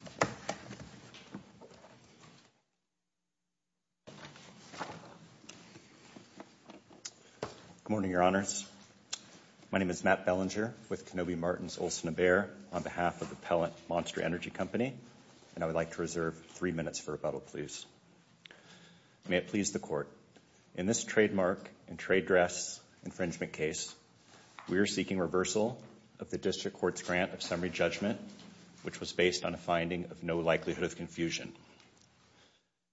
Good morning, Your Honors. My name is Matt Bellinger with Kenobi Martin's Olsen & Behr on behalf of the Pellant Monster Energy Company, and I would like to reserve three minutes for rebuttal, please. May it please the Court, in this trademark and trade dress infringement case, we are of confusion.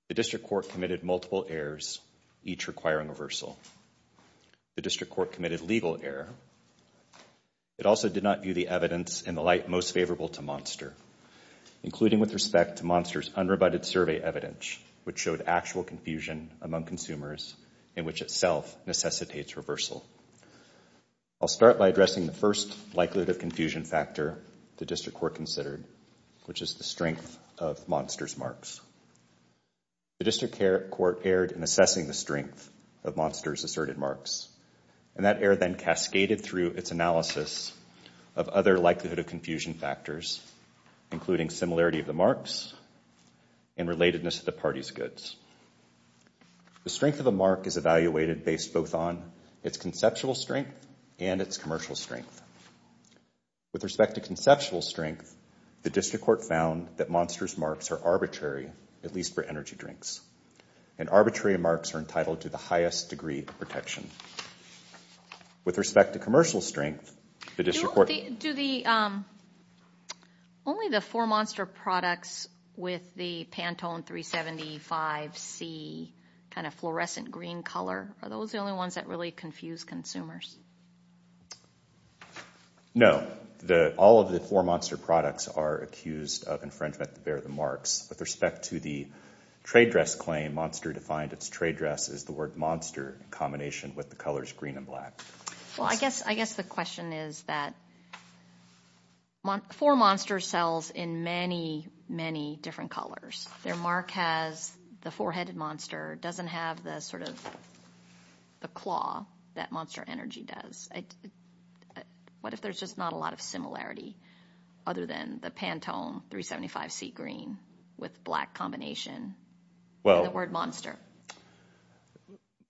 The District Court committed multiple errors, each requiring reversal. The District Court committed legal error. It also did not view the evidence in the light most favorable to Monster, including with respect to Monster's unrebutted survey evidence, which showed actual confusion among consumers in which itself necessitates reversal. I'll start by addressing the first likelihood of confusion factor the District Court considered, which is the strength of Monster's marks. The District Court erred in assessing the strength of Monster's asserted marks, and that error then cascaded through its analysis of other likelihood of confusion factors, including similarity of the marks and relatedness to the party's goods. The strength of a mark is evaluated based both on its conceptual strength and its commercial strength. With respect to conceptual strength, the District Court found that Monster's marks are arbitrary, at least for energy drinks, and arbitrary marks are entitled to the highest degree of With respect to commercial strength, the District Court Do the, only the four Monster products with the Pantone 375C kind of fluorescent green color, are those the only ones that really confuse consumers? No. The, all of the four Monster products are accused of infringement to bear the marks. With respect to the trade dress claim, Monster defined its trade dress as the word monster in combination with the colors green and black. Well, I guess, I guess the question is that four Monster sells in many, many different colors. Their mark has the four-headed monster, doesn't have the sort of the claw, that monster energy does. I, what if there's just not a lot of similarity other than the Pantone 375C green with black combination and the word monster?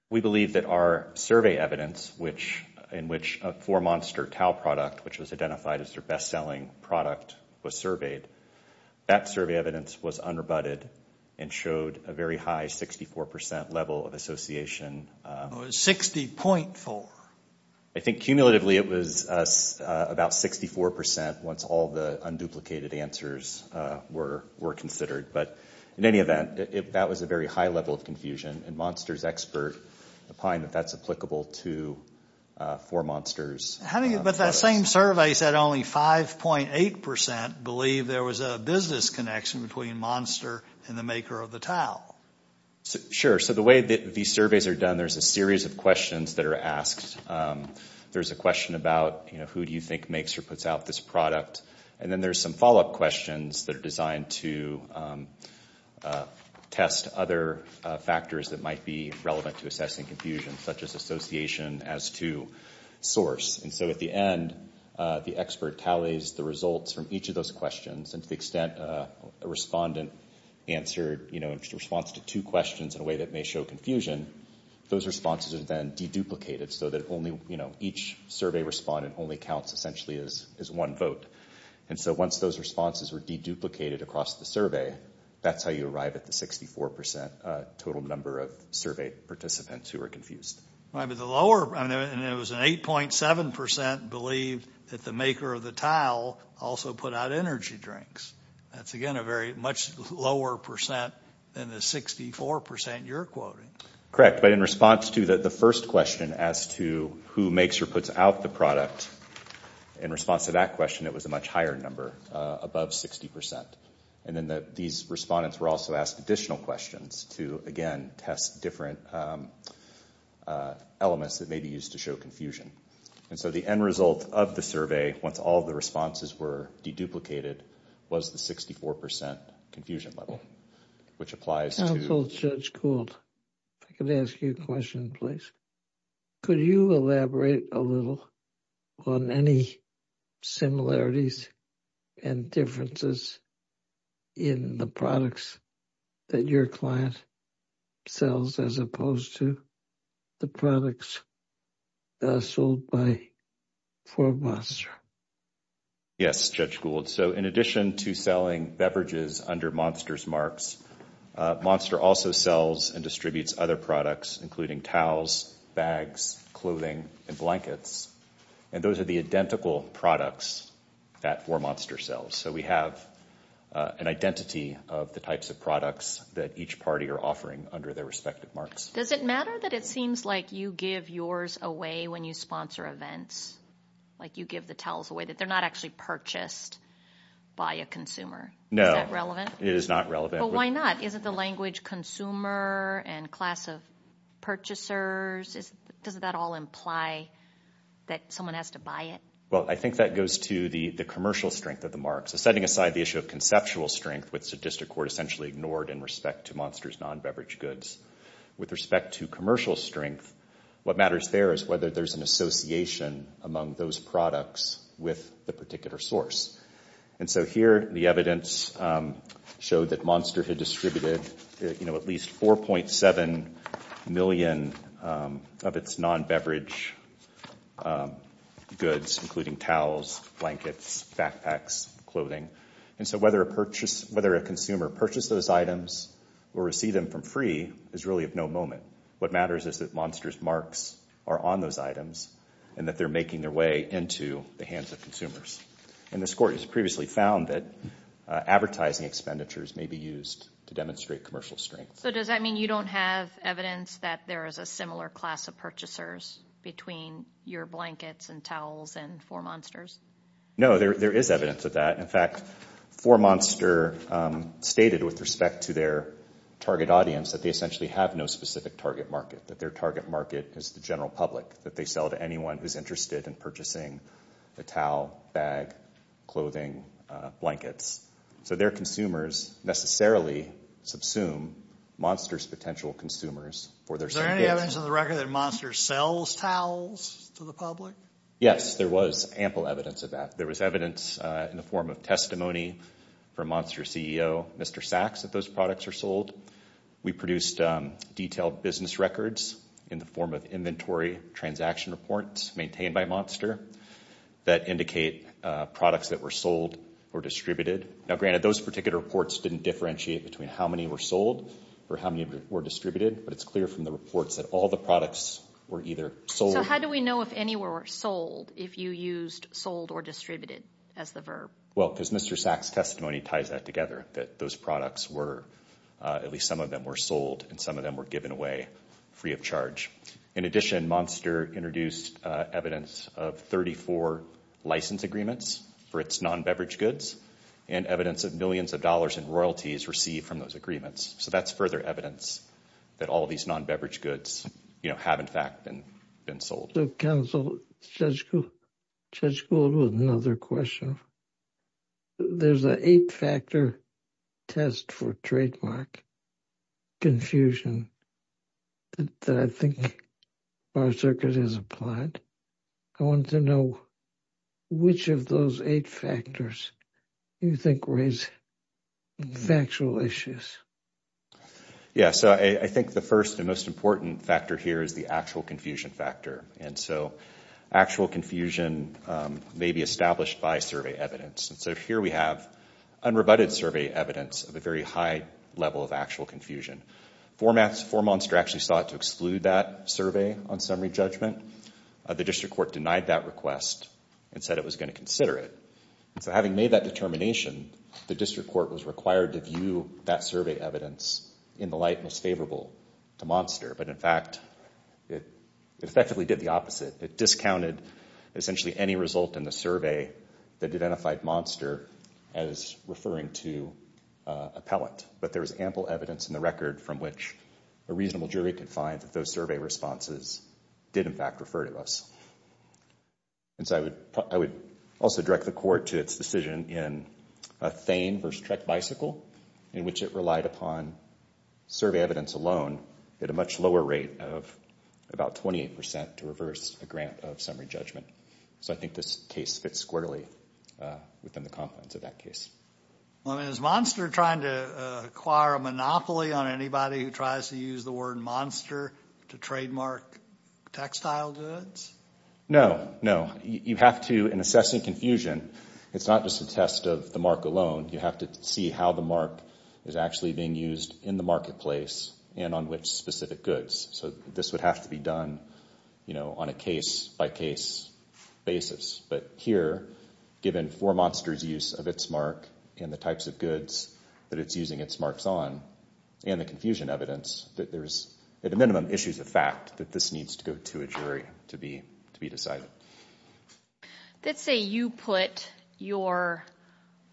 We believe that our survey evidence, which, in which a four Monster towel product, which was identified as their best-selling product, was surveyed. That survey evidence was unrebutted and showed a very high 64% level of association. It was 60.4. I think cumulatively it was about 64% once all the unduplicated answers were considered, but in any event, that was a very high level of confusion, and Monster's expert opined that that's applicable to four Monsters. How many, but that same survey said only 5.8% believe there was a business connection between Monster and the maker of the towel. Sure, so the way that these surveys are done, there's a series of questions that are asked. There's a question about, you know, who do you think makes or puts out this product, and then there's some follow-up questions that are designed to test other factors that might be relevant to assessing confusion, such as association as to source, and so at the end, the expert tallies the results from each of those questions, and to the extent that a respondent answered, you know, in response to two questions in a way that may show confusion, those responses are then deduplicated so that only, you know, each survey respondent only counts essentially as one vote, and so once those responses were deduplicated across the survey, that's how you arrive at the 64% total number of survey participants who are confused. Right, but the lower, I mean, it was an 8.7% believed that the maker of the towel also put out energy drinks. That's, again, a very much lower percent than the 64% you're quoting. Correct, but in response to the first question as to who makes or puts out the product, in response to that question, it was a much higher number, above 60%, and then these respondents were also asked additional questions to, again, test different elements that may be used to show confusion. And so the end result of the survey, once all of the responses were deduplicated, was the 64% confusion level, which applies to... Counsel Judge Kult, if I could ask you a question, please. Could you elaborate a little on any similarities and differences in the products that your sold by 4Monster? Yes, Judge Gould. So in addition to selling beverages under Monster's marks, Monster also sells and distributes other products, including towels, bags, clothing, and blankets, and those are the identical products that 4Monster sells. So we have an identity of the types of products that each party are offering under their respective marks. Does it matter that it seems like you give yours away when you sponsor events? Like you give the towels away, that they're not actually purchased by a consumer? No. Is that relevant? It is not relevant. But why not? Isn't the language consumer and class of purchasers, doesn't that all imply that someone has to buy it? Well, I think that goes to the commercial strength of the mark. So setting aside the issue of conceptual strength, which the district court essentially ignored in respect to Monster's non-beverage goods, with respect to commercial strength, what matters there is whether there's an association among those products with the particular source. And so here, the evidence showed that Monster had distributed at least 4.7 million of its non-beverage goods, including towels, blankets, backpacks, clothing. And so whether a consumer purchased those items or received them from free is really of no moment. What matters is that Monster's marks are on those items and that they're making their way into the hands of consumers. And this court has previously found that advertising expenditures may be used to demonstrate commercial strength. So does that mean you don't have evidence that there is a similar class of purchasers between your blankets and towels and for Monster's? No, there is evidence of that. In fact, for Monster, stated with respect to their target audience, that they essentially have no specific target market, that their target market is the general public, that they sell to anyone who's interested in purchasing the towel, bag, clothing, blankets. So their consumers necessarily subsume Monster's potential consumers for their same goods. Is there any evidence on the record that Monster sells towels to the public? Yes, there was ample evidence of that. There was evidence in the form of testimony from Monster's CEO, Mr. Sachs, that those products are sold. We produced detailed business records in the form of inventory transaction reports maintained by Monster that indicate products that were sold or distributed. Now granted, those particular reports didn't differentiate between how many were sold or how many were distributed, but it's clear from the reports that all the products were either sold... Well, because Mr. Sachs' testimony ties that together, that those products were, at least some of them were sold and some of them were given away free of charge. In addition, Monster introduced evidence of 34 license agreements for its non-beverage goods and evidence of millions of dollars in royalties received from those agreements. So that's further evidence that all these non-beverage goods, you know, have in fact been sold. I have another question. There's an eight-factor test for trademark confusion that I think Bar Circuit has applied. I want to know which of those eight factors you think raise factual issues. Yeah, so I think the first and most important factor here is the actual confusion factor. And so actual confusion may be established by survey evidence. And so here we have unrebutted survey evidence of a very high level of actual confusion. Foremonster actually sought to exclude that survey on summary judgment. The district court denied that request and said it was going to consider it. And so having made that determination, the district court was required to view that survey evidence in the light most favorable to Monster. But in fact, it effectively did the opposite. It discounted essentially any result in the survey that identified Monster as referring to a pellet. But there was ample evidence in the record from which a reasonable jury could find that those survey responses did in fact refer to us. And so I would also direct the court to its decision in Thane v. Trek Bicycle in which it relied upon survey evidence alone at a much lower rate of about 28% to reverse a grant of summary judgment. So I think this case fits squarely within the confines of that case. Is Monster trying to acquire a monopoly on anybody who tries to use the word Monster to trademark textile goods? No. No. You have to, in assessing confusion, it's not just a test of the mark alone. You have to see how the mark is actually being used in the marketplace and on which specific goods. So this would have to be done on a case-by-case basis. But here, given for Monster's use of its mark and the types of goods that it's using its marks on and the confusion evidence, there's at a minimum issues of fact that this needs to go to a jury to be decided. Let's say you put your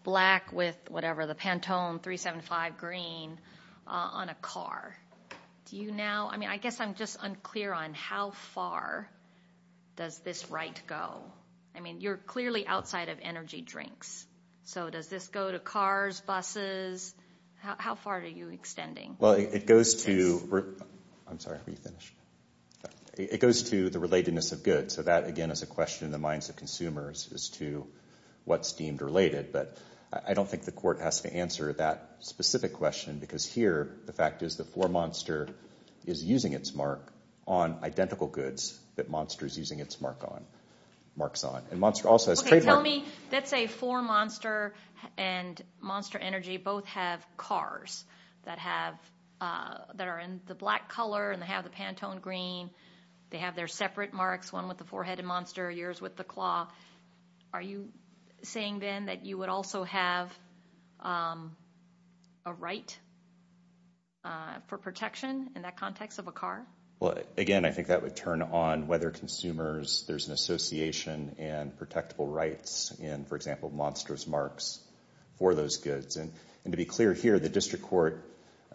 black with whatever, the Pantone 375 green on a car. Do you now, I mean, I guess I'm just unclear on how far does this right go? I mean, you're clearly outside of energy drinks. So does this go to cars, buses? How far are you extending? Well, it goes to, I'm sorry, let me finish. It goes to the relatedness of goods. So that, again, is a question in the minds of consumers as to what's deemed related. But I don't think the court has to answer that specific question because here, the fact is the Foremonster is using its mark on identical goods that Monster's using its mark on, marks on. And Monster also has trademark. Okay, tell me, let's say Foremonster and Monster Energy both have cars that have, that are in the black color and they have the Pantone green. They have their separate marks, one with the forehead and Monster, yours with the claw. Are you saying then that you would also have a right for protection in that context of a car? Well, again, I think that would turn on whether consumers, there's an association and protectable rights in, for example, Monster's marks for those goods. And to be clear here, the district court,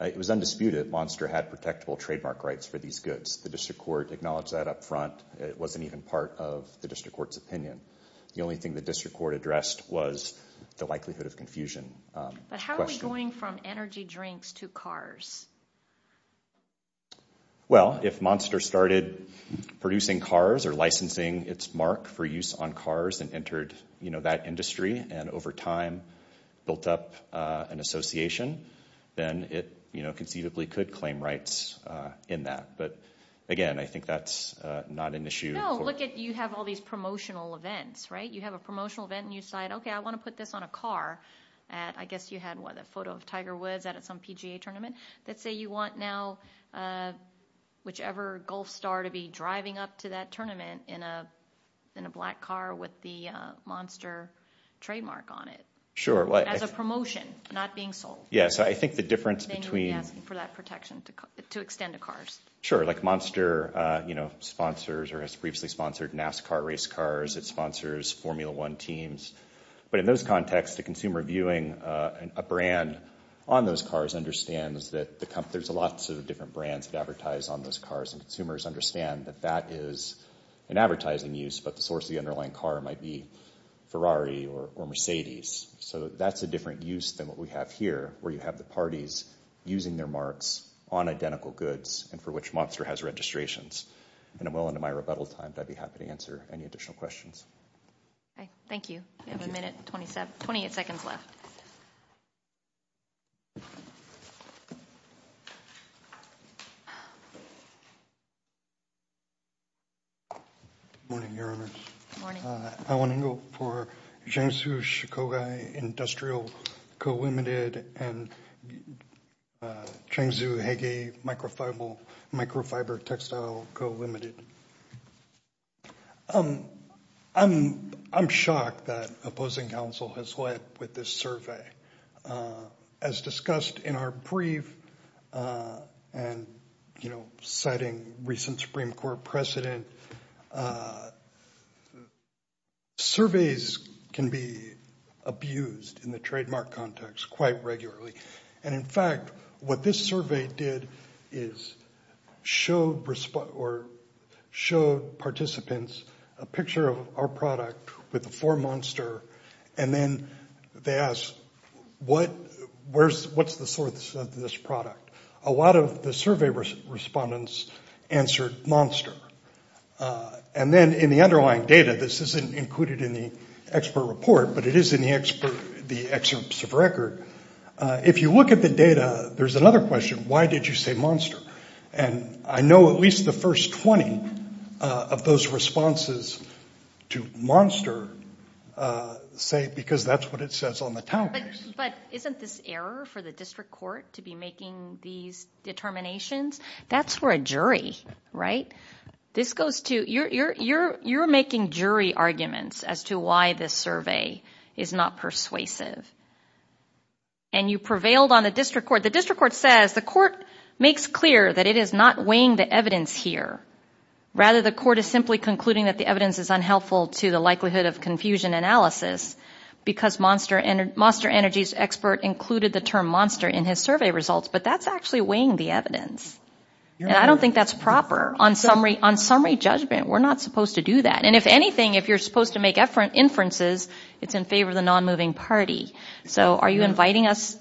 it was undisputed that Monster had protectable trademark rights for these goods. The district court acknowledged that up front. It wasn't even part of the district court's opinion. The only thing the district court addressed was the likelihood of confusion. But how are we going from energy drinks to cars? Well, if Monster started producing cars or licensing its mark for use on cars and entered, you know, that industry and over time built up an association, then it, you know, conceivably could claim rights in that. But again, I think that's not an issue. No, look at, you have all these promotional events, right? You have a promotional event and you decide, okay, I want to put this on a car at, I guess you had what, a photo of Tiger Woods at some PGA tournament? Let's say you want now whichever golf star to be driving up to that tournament in a black car with the Monster trademark on it. As a promotion, not being sold. Yes. I think the difference between- Then you would be asking for that protection to extend to cars. Sure. Like Monster, you know, sponsors or has briefly sponsored NASCAR race cars. It sponsors Formula One teams. But in those contexts, the consumer viewing a brand on those cars understands that there's lots of different brands that advertise on those cars and consumers understand that that is an advertising use, but the source of the underlying car might be Ferrari or Mercedes. So that's a different use than what we have here, where you have the parties using their marks on identical goods and for which Monster has registrations. And I'm well into my rebuttal time, I'd be happy to answer any additional questions. Thank you. We have a minute, 28 seconds left. Good morning, Your Honor. Good morning. I want to go for Cheng Tzu Shikoga Industrial Co., Ltd. and Cheng Tzu Hege Microfiber Textile Co., Ltd. I'm shocked that opposing counsel has led with this survey. As discussed in our brief and, you know, citing recent Supreme Court precedent, surveys can be abused in the trademark context quite regularly. And in fact, what this survey did is showed participants a picture of our product with the four Monster and then they asked, what's the source of this product? A lot of the survey respondents answered Monster. And then in the underlying data, this isn't included in the expert report, but it is in the excerpts of record. If you look at the data, there's another question, why did you say Monster? And I know at least the first 20 of those responses to Monster say, because that's what it says on the town case. But isn't this error for the district court to be making these determinations? That's for a jury, right? This goes to, you're making jury arguments as to why this survey is not persuasive. And you prevailed on the district court. The district court says, the court makes clear that it is not weighing the evidence here. Rather, the court is simply concluding that the evidence is unhelpful to the likelihood of confusion analysis because Monster Energy's expert included the term Monster in his survey results. But that's actually weighing the evidence. And I don't think that's proper. On summary judgment, we're not supposed to do that. And if anything, if you're supposed to make inferences, it's in favor of the non-moving party. So are you inviting us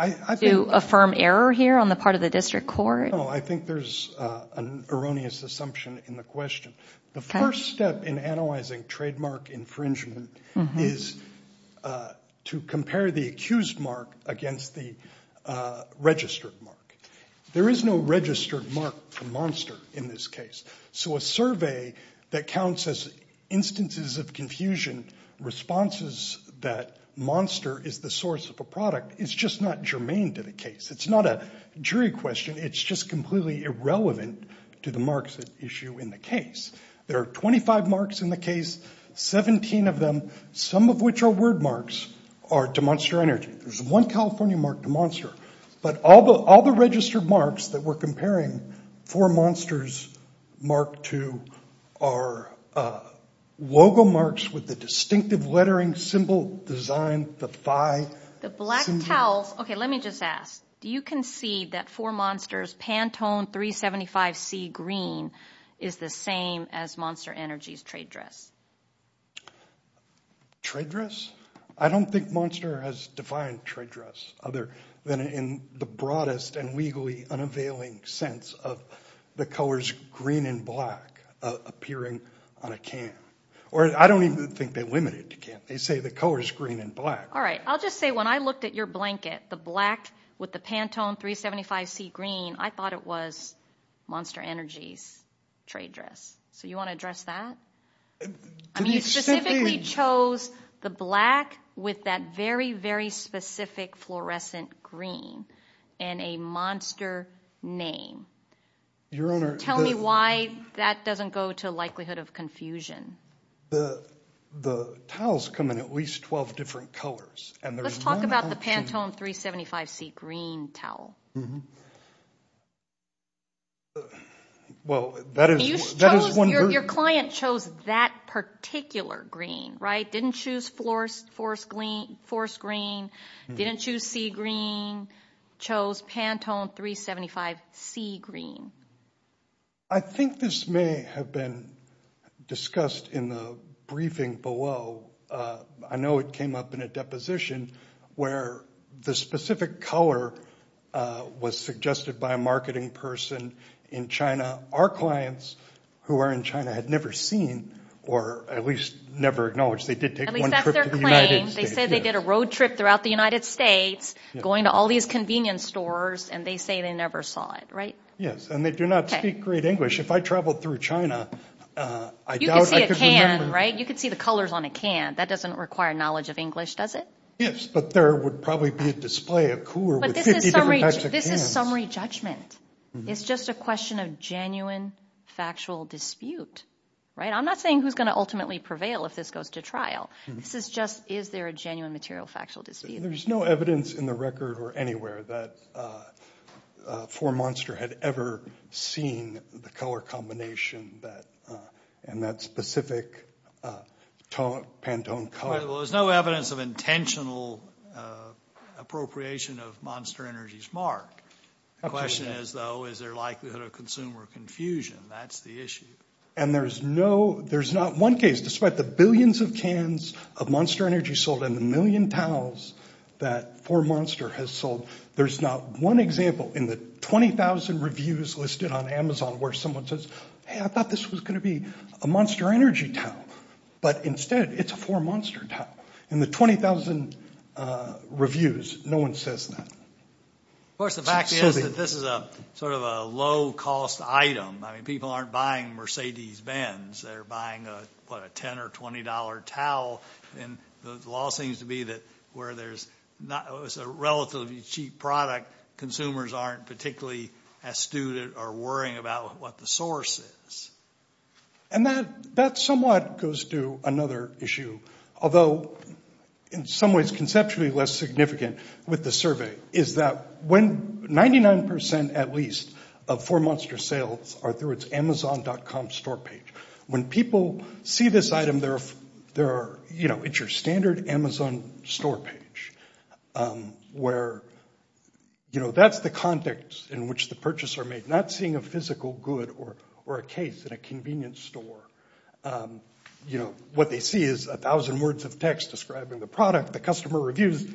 to affirm error here on the part of the district court? No, I think there's an erroneous assumption in the question. The first step in analyzing trademark infringement is to compare the accused mark against the registered mark. There is no registered mark for Monster in this case. So a survey that counts as instances of confusion, responses that Monster is the source of a product, is just not germane to the case. It's not a jury question. It's just completely irrelevant to the marks at issue in the case. There are 25 marks in the case, 17 of them, some of which are word marks, are to Monster Energy. There's one California mark to Monster. But all the registered marks that we're comparing for Monster's mark to are logo marks with the distinctive lettering symbol design, the five symbols. The black towels. Okay, let me just ask, do you concede that for Monster's Pantone 375C green is the same as Monster Energy's trade dress? Trade dress? I don't think Monster has defined trade dress other than in the broadest and legally unavailing sense of the colors green and black appearing on a can. Or I don't even think they limit it to can. They say the color is green and black. All right, I'll just say when I looked at your blanket, the black with the Pantone 375C green, I thought it was Monster Energy's trade dress. So you want to address that? I mean, you specifically chose the black with that very, very specific fluorescent green and a Monster name. Your Honor- Tell me why that doesn't go to likelihood of confusion. The towels come in at least 12 different colors and there's one option- Let's talk about the Pantone 375C green towel. Well, that is- You chose- That is one version- Your client chose that particular green, right? Didn't choose forest green, didn't choose sea green, chose Pantone 375C green. I think this may have been discussed in the briefing below. I know it came up in a deposition where the specific color was suggested by a marketing person in China. Our clients who are in China had never seen or at least never acknowledged they did take one trip to the United States. At least that's their claim. They said they did a road trip throughout the United States going to all these convenience stores and they say they never saw it, right? Yes, and they do not speak great English. If I traveled through China, I doubt I could remember- You could see a can, right? You could see a can. That doesn't require knowledge of English, does it? Yes, but there would probably be a display of cooler- But this is summary judgment. It's just a question of genuine factual dispute, right? I'm not saying who's going to ultimately prevail if this goes to trial. This is just, is there a genuine material factual dispute? There's no evidence in the record or anywhere that 4Monster had ever seen the color combination and that specific Pantone color. Well, there's no evidence of intentional appropriation of Monster Energy's mark. The question is though, is there likelihood of consumer confusion? That's the issue. And there's not one case, despite the billions of cans of Monster Energy sold and the million towels that 4Monster has sold, there's not one example in the 20,000 reviews listed on I thought this was going to be a Monster Energy towel. But instead, it's a 4Monster towel. In the 20,000 reviews, no one says that. Of course, the fact is that this is sort of a low-cost item. I mean, people aren't buying Mercedes-Benz. They're buying, what, a $10 or $20 towel. And the law seems to be that where there's a relatively cheap product, consumers aren't particularly astute or worrying about what the source is. And that somewhat goes to another issue, although in some ways conceptually less significant with the survey, is that 99%, at least, of 4Monster sales are through its Amazon.com store page. When people see this item, it's your standard Amazon store page. That's the context in which the purchases are made. Not seeing a physical good or a case in a convenience store. What they see is a thousand words of text describing the product, the customer reviews,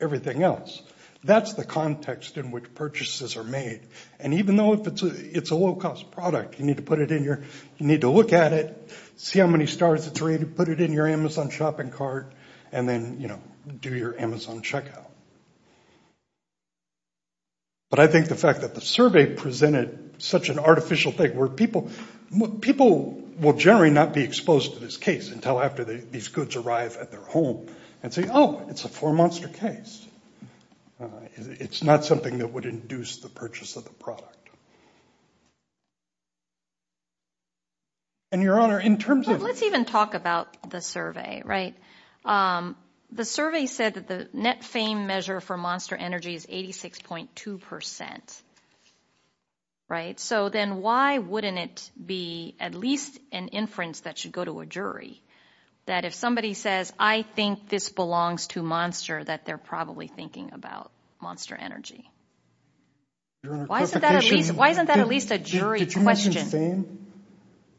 everything else. That's the context in which purchases are made. And even though it's a low-cost product, you need to put it in your, you need to look at it, see how many stars it's rated, put it in your Amazon shopping cart, and then do your Amazon checkout. But I think the fact that the survey presented such an artificial thing where people, people will generally not be exposed to this case until after these goods arrive at their home and say, oh, it's a 4Monster case. It's not something that would induce the purchase of the product. And, Your Honor, in terms of- Let's even talk about the survey, right? The survey said that the net fame measure for Monster Energy is 86.2%, right? So then why wouldn't it be at least an inference that should go to a jury, that if somebody says, I think this belongs to Monster, that they're probably thinking about Monster Energy? Your Honor, clarification- Why isn't that at least a jury question? Did you mention fame?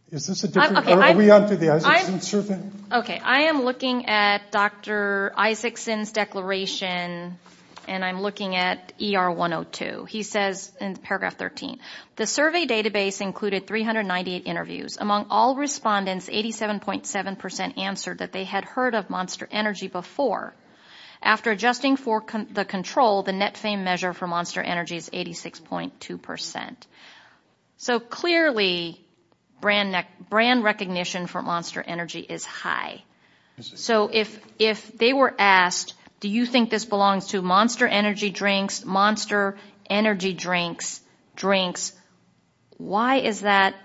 Is this a different- Okay, I- Are we on to the Isakson survey? Okay, I am looking at Dr. Isakson's declaration, and I'm looking at ER 102. He says in paragraph 13, the survey database included 398 interviews. Among all respondents, 87.7% answered that they had heard of Monster Energy before. After adjusting for the control, the net fame measure for Monster Energy is 86.2%. So clearly, brand recognition for Monster Energy is high. So if they were asked, do you think this belongs to Monster Energy drinks, Monster Energy drinks, drinks, why is that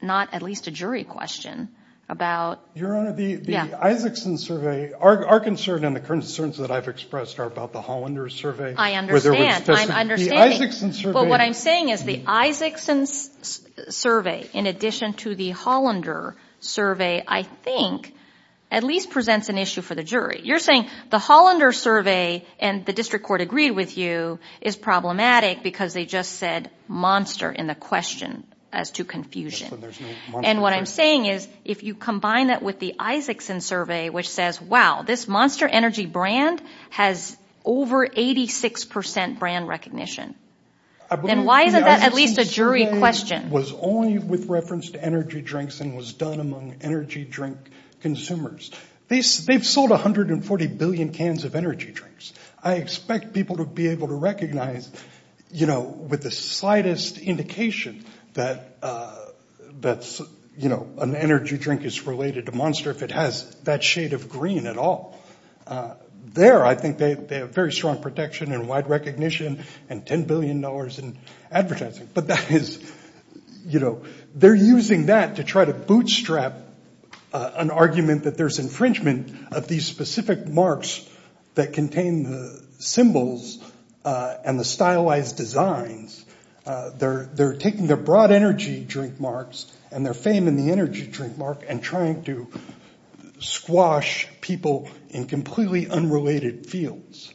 not at least a jury question about- Your Honor, the Isakson survey- Our concern and the concerns that I've expressed are about the Hollander survey. I understand. The Isakson survey- But what I'm saying is the Isakson survey, in addition to the Hollander survey, I think at least presents an issue for the jury. You're saying the Hollander survey, and the district court agreed with you, is problematic because they just said Monster in the question as to confusion. Yes, but there's no Monster in the question. And what I'm saying is if you combine that with the Isakson survey, which says, wow, this Monster Energy brand has over 86% brand recognition, then why isn't that at least a jury question? The Isakson survey was only with reference to energy drinks and was done among energy drink consumers. They've sold 140 billion cans of energy drinks. I expect people to be able to recognize, you know, with the slightest indication that, you know, an energy drink is related to Monster if it has that shade of green at all. There, I think they have very strong protection and wide recognition and $10 billion in advertising. But that is, you know, they're using that to try to bootstrap an argument that there's infringement of these specific marks that contain the symbols and the stylized designs. They're taking their broad energy drink marks and their fame in the energy drink mark and trying to squash people in completely unrelated fields.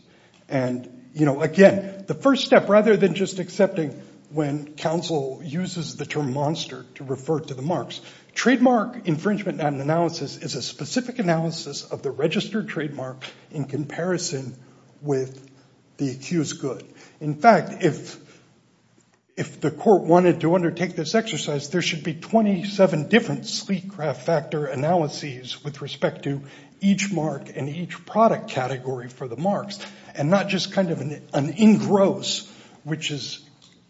And, you know, again, the first step, rather than just accepting when counsel uses the term Monster to refer to the marks, trademark infringement analysis is a specific analysis of the registered trademark in comparison with the accused good. In fact, if the court wanted to undertake this exercise, there should be 27 different sleek craft factor analyses with respect to each mark and each product category for the marks and not just kind of an engross, which is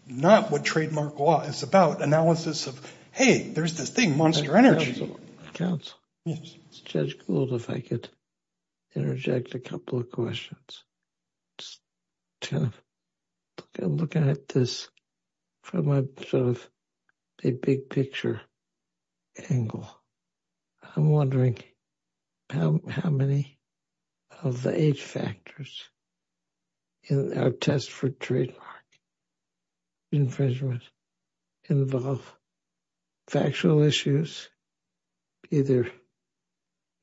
not what trademark law is about, analysis of, hey, there's this thing, Monster Energy. Counsel. Yes. Judge Gould, if I could interject a couple of questions. Looking at this from a sort of a big picture angle, I'm wondering how many of the age factors in our test for trademark infringement involve factual issues either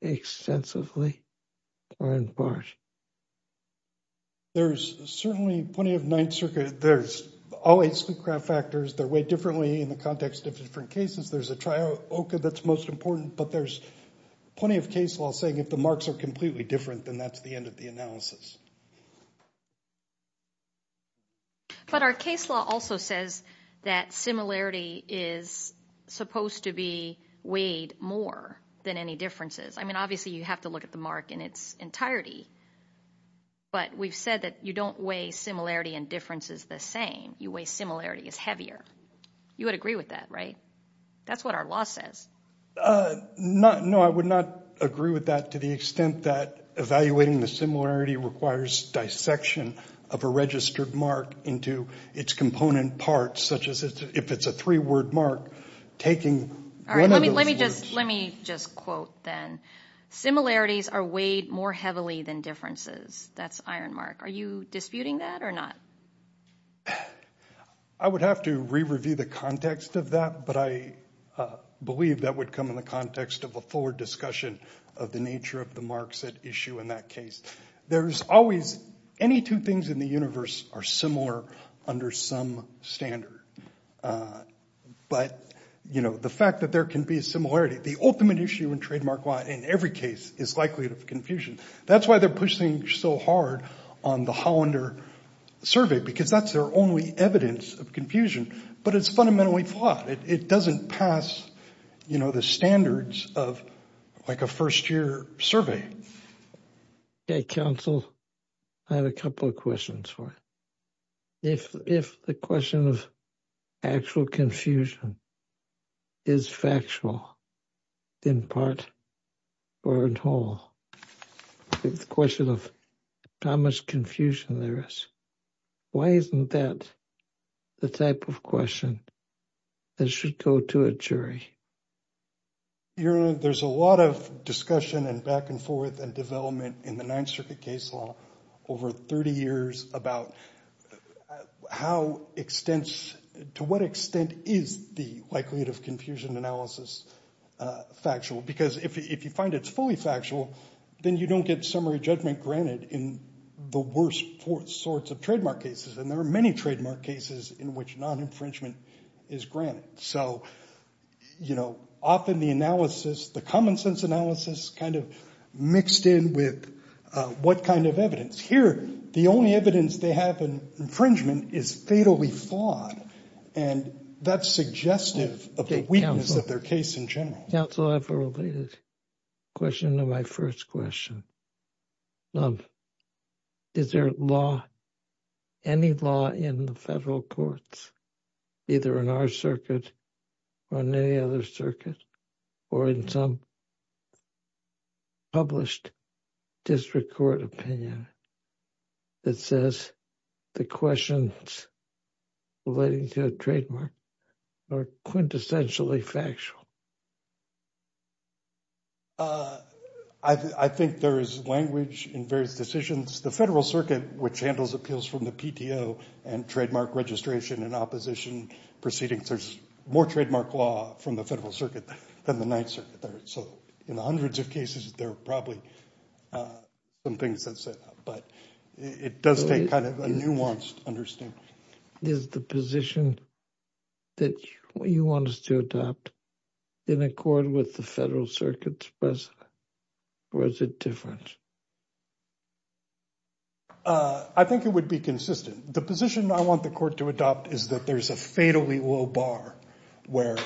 extensively or in part? There's certainly plenty of ninth circuit. There's all eight sleek craft factors. They're weighed differently in the context of different cases. There's a trioka that's most important, but there's plenty of case law saying if the marks are completely different, then that's the end of the analysis. But our case law also says that similarity is supposed to be weighed more than any differences. I mean, obviously you have to look at the mark in its entirety, but we've said that you don't weigh similarity and differences the same. You weigh similarity as heavier. You would agree with that, right? That's what our law says. No, I would not agree with that to the extent that evaluating the similarity requires dissection of a registered mark into its component parts, such as if it's a three-word mark, taking one of those words. All right, let me just quote then. Similarities are weighed more heavily than differences. That's iron mark. Are you disputing that or not? I would have to re-review the context of that, but I believe that would come in the context of a forward discussion of the There's always any two things in the universe are similar under some standard. But, you know, the fact that there can be a similarity, the ultimate issue in trademark law in every case is likelihood of confusion. That's why they're pushing so hard on the Hollander survey, because that's their only evidence of confusion. But it's fundamentally flawed. It doesn't pass, you know, the standards of like a first-year survey. Counsel, I have a couple of questions for you. If the question of actual confusion is factual in part or in whole, the question of how much confusion there is, why isn't that the type of question that should go to a jury? You know, there's a lot of discussion and back and forth and development in the Ninth Circuit case law over 30 years about how extents, to what extent is the likelihood of confusion analysis factual. Because if you find it's fully factual, then you don't get summary judgment granted in the worst sorts of trademark cases. And there are many trademark cases in which non-infringement is granted. So, you know, often the analysis, the common sense analysis kind of mixed in with what kind of evidence. Here, the only evidence they have in infringement is fatally flawed, and that's suggestive of the weakness of their case in general. Counsel, I have a related question to my first question. Is there law, any law in the federal courts, either in our circuit or in any other circuit, or in some published district court opinion that says the questions relating to a trademark are quintessentially factual? I think there is language in various decisions. The Federal Circuit, which handles appeals from the PTO and trademark registration and opposition proceedings, there's more trademark law from the Federal Circuit than the Ninth Circuit. So in the hundreds of cases, there are probably some things that say that. But it does take kind of a nuanced understanding. Is the position that you want us to adopt in accord with the Federal Circuit's precedent, or is it different? I think it would be consistent. The position I want the court to adopt is that there's a fatally low bar where,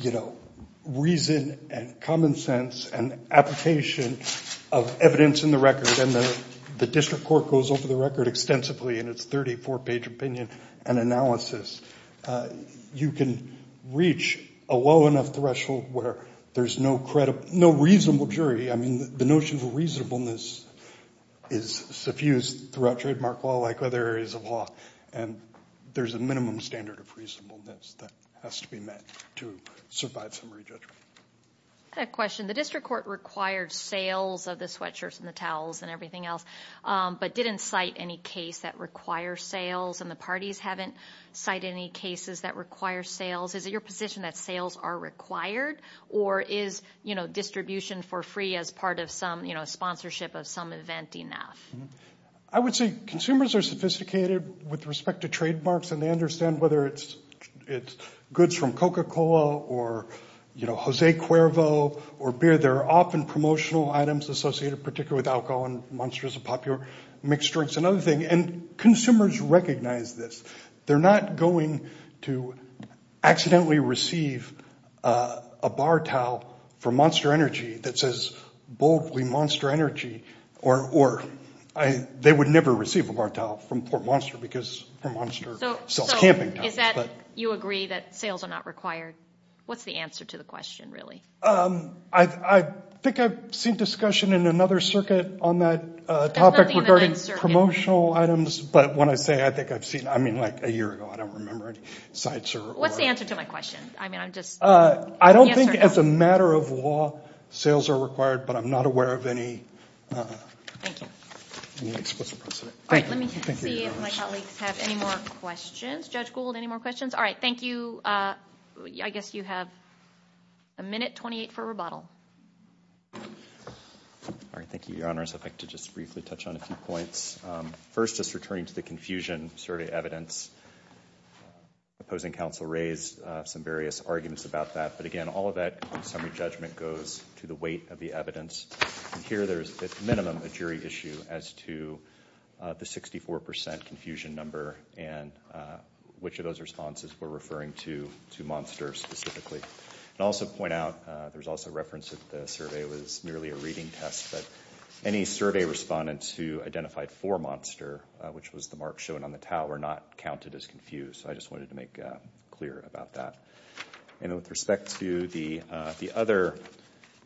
you know, reason and common sense and application of evidence in the record, and the district court goes over the record extensively in its 34-page opinion and analysis. You can reach a low enough threshold where there's no reasonable jury. I mean, the notion of reasonableness is suffused throughout trademark law like other areas of law, and there's a minimum standard of reasonableness that has to be met to survive summary judgment. I have a question. The district court required sales of the sweatshirts and the towels and everything else, but didn't cite any case that requires sales, and the parties haven't cited any cases that require sales. Is it your position that sales are required, or is distribution for free as part of some sponsorship of some event enough? I would say consumers are sophisticated with respect to trademarks, and they understand whether it's goods from Coca-Cola or, you know, J. Cuervo or beer. There are often promotional items associated particularly with alcohol and Monster is a popular mixed drink. It's another thing, and consumers recognize this. They're not going to accidentally receive a bar towel from Monster Energy that says, boldly, Monster Energy, or they would never receive a bar towel from Port Monster because Port Monster sells camping towels. So is that you agree that sales are not required? What's the answer to the question, really? I think I've seen discussion in another circuit on that topic regarding promotional items, but when I say I think I've seen it, I mean like a year ago. I don't remember any sites. What's the answer to my question? I don't think as a matter of law sales are required, but I'm not aware of any explicit precedent. Let me see if my colleagues have any more questions. Judge Gould, any more questions? All right. Thank you. I guess you have a minute 28 for rebuttal. Thank you, Your Honors. I'd like to just briefly touch on a few points. First, just returning to the confusion survey evidence, opposing counsel raised some various arguments about that, but again all of that summary judgment goes to the weight of the evidence. Here there's at minimum a jury issue as to the 64% confusion number and which of those responses we're referring to, to Monster specifically. I'd also point out there's also reference that the survey was merely a reading test, but any survey respondents who identified for Monster, which was the mark shown on the towel, were not counted as confused, so I just wanted to make clear about that. With respect to the other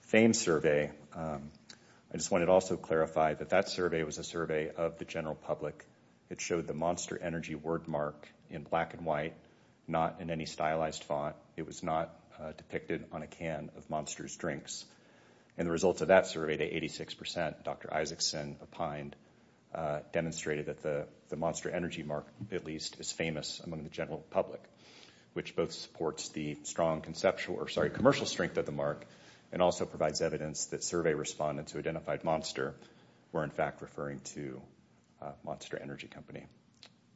FAME survey, I just wanted to also clarify that that survey was a survey of the general public. It showed the Monster energy word mark in black and white, not in any stylized font. It was not depicted on a can of Monster's drinks. And the results of that survey, the 86% Dr. Isaacson opined, demonstrated that the Monster energy mark at least is famous among the general public, which both supports the strong commercial strength of the mark and also provides evidence that survey respondents who identified Monster were in fact referring to Monster Energy Company.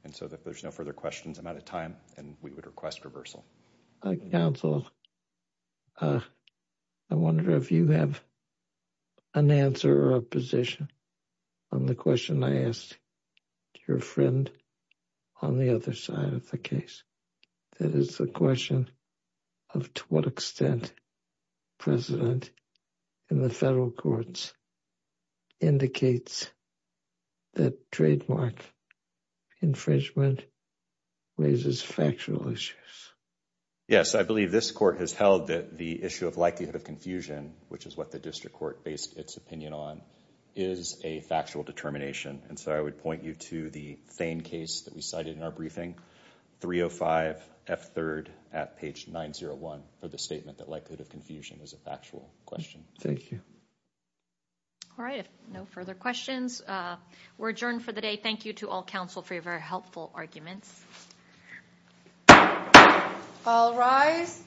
And so if there's no further questions, I'm out of time, and we would request reversal. Counsel, I wonder if you have an answer or a position on the question I asked your friend on the other side of the case. That is the question of to what extent precedent in the federal courts indicates that trademark infringement raises factual issues. Yes, I believe this court has held that the issue of likelihood of confusion, which is what the district court based its opinion on, is a factual determination, and so I would point you to the Thane case that we cited in our briefing, 305F3rd at page 901 for the statement that likelihood of confusion is a factual question. Thank you. All right, if no further questions, we're adjourned for the day. Thank you to all counsel for your very helpful arguments. All rise.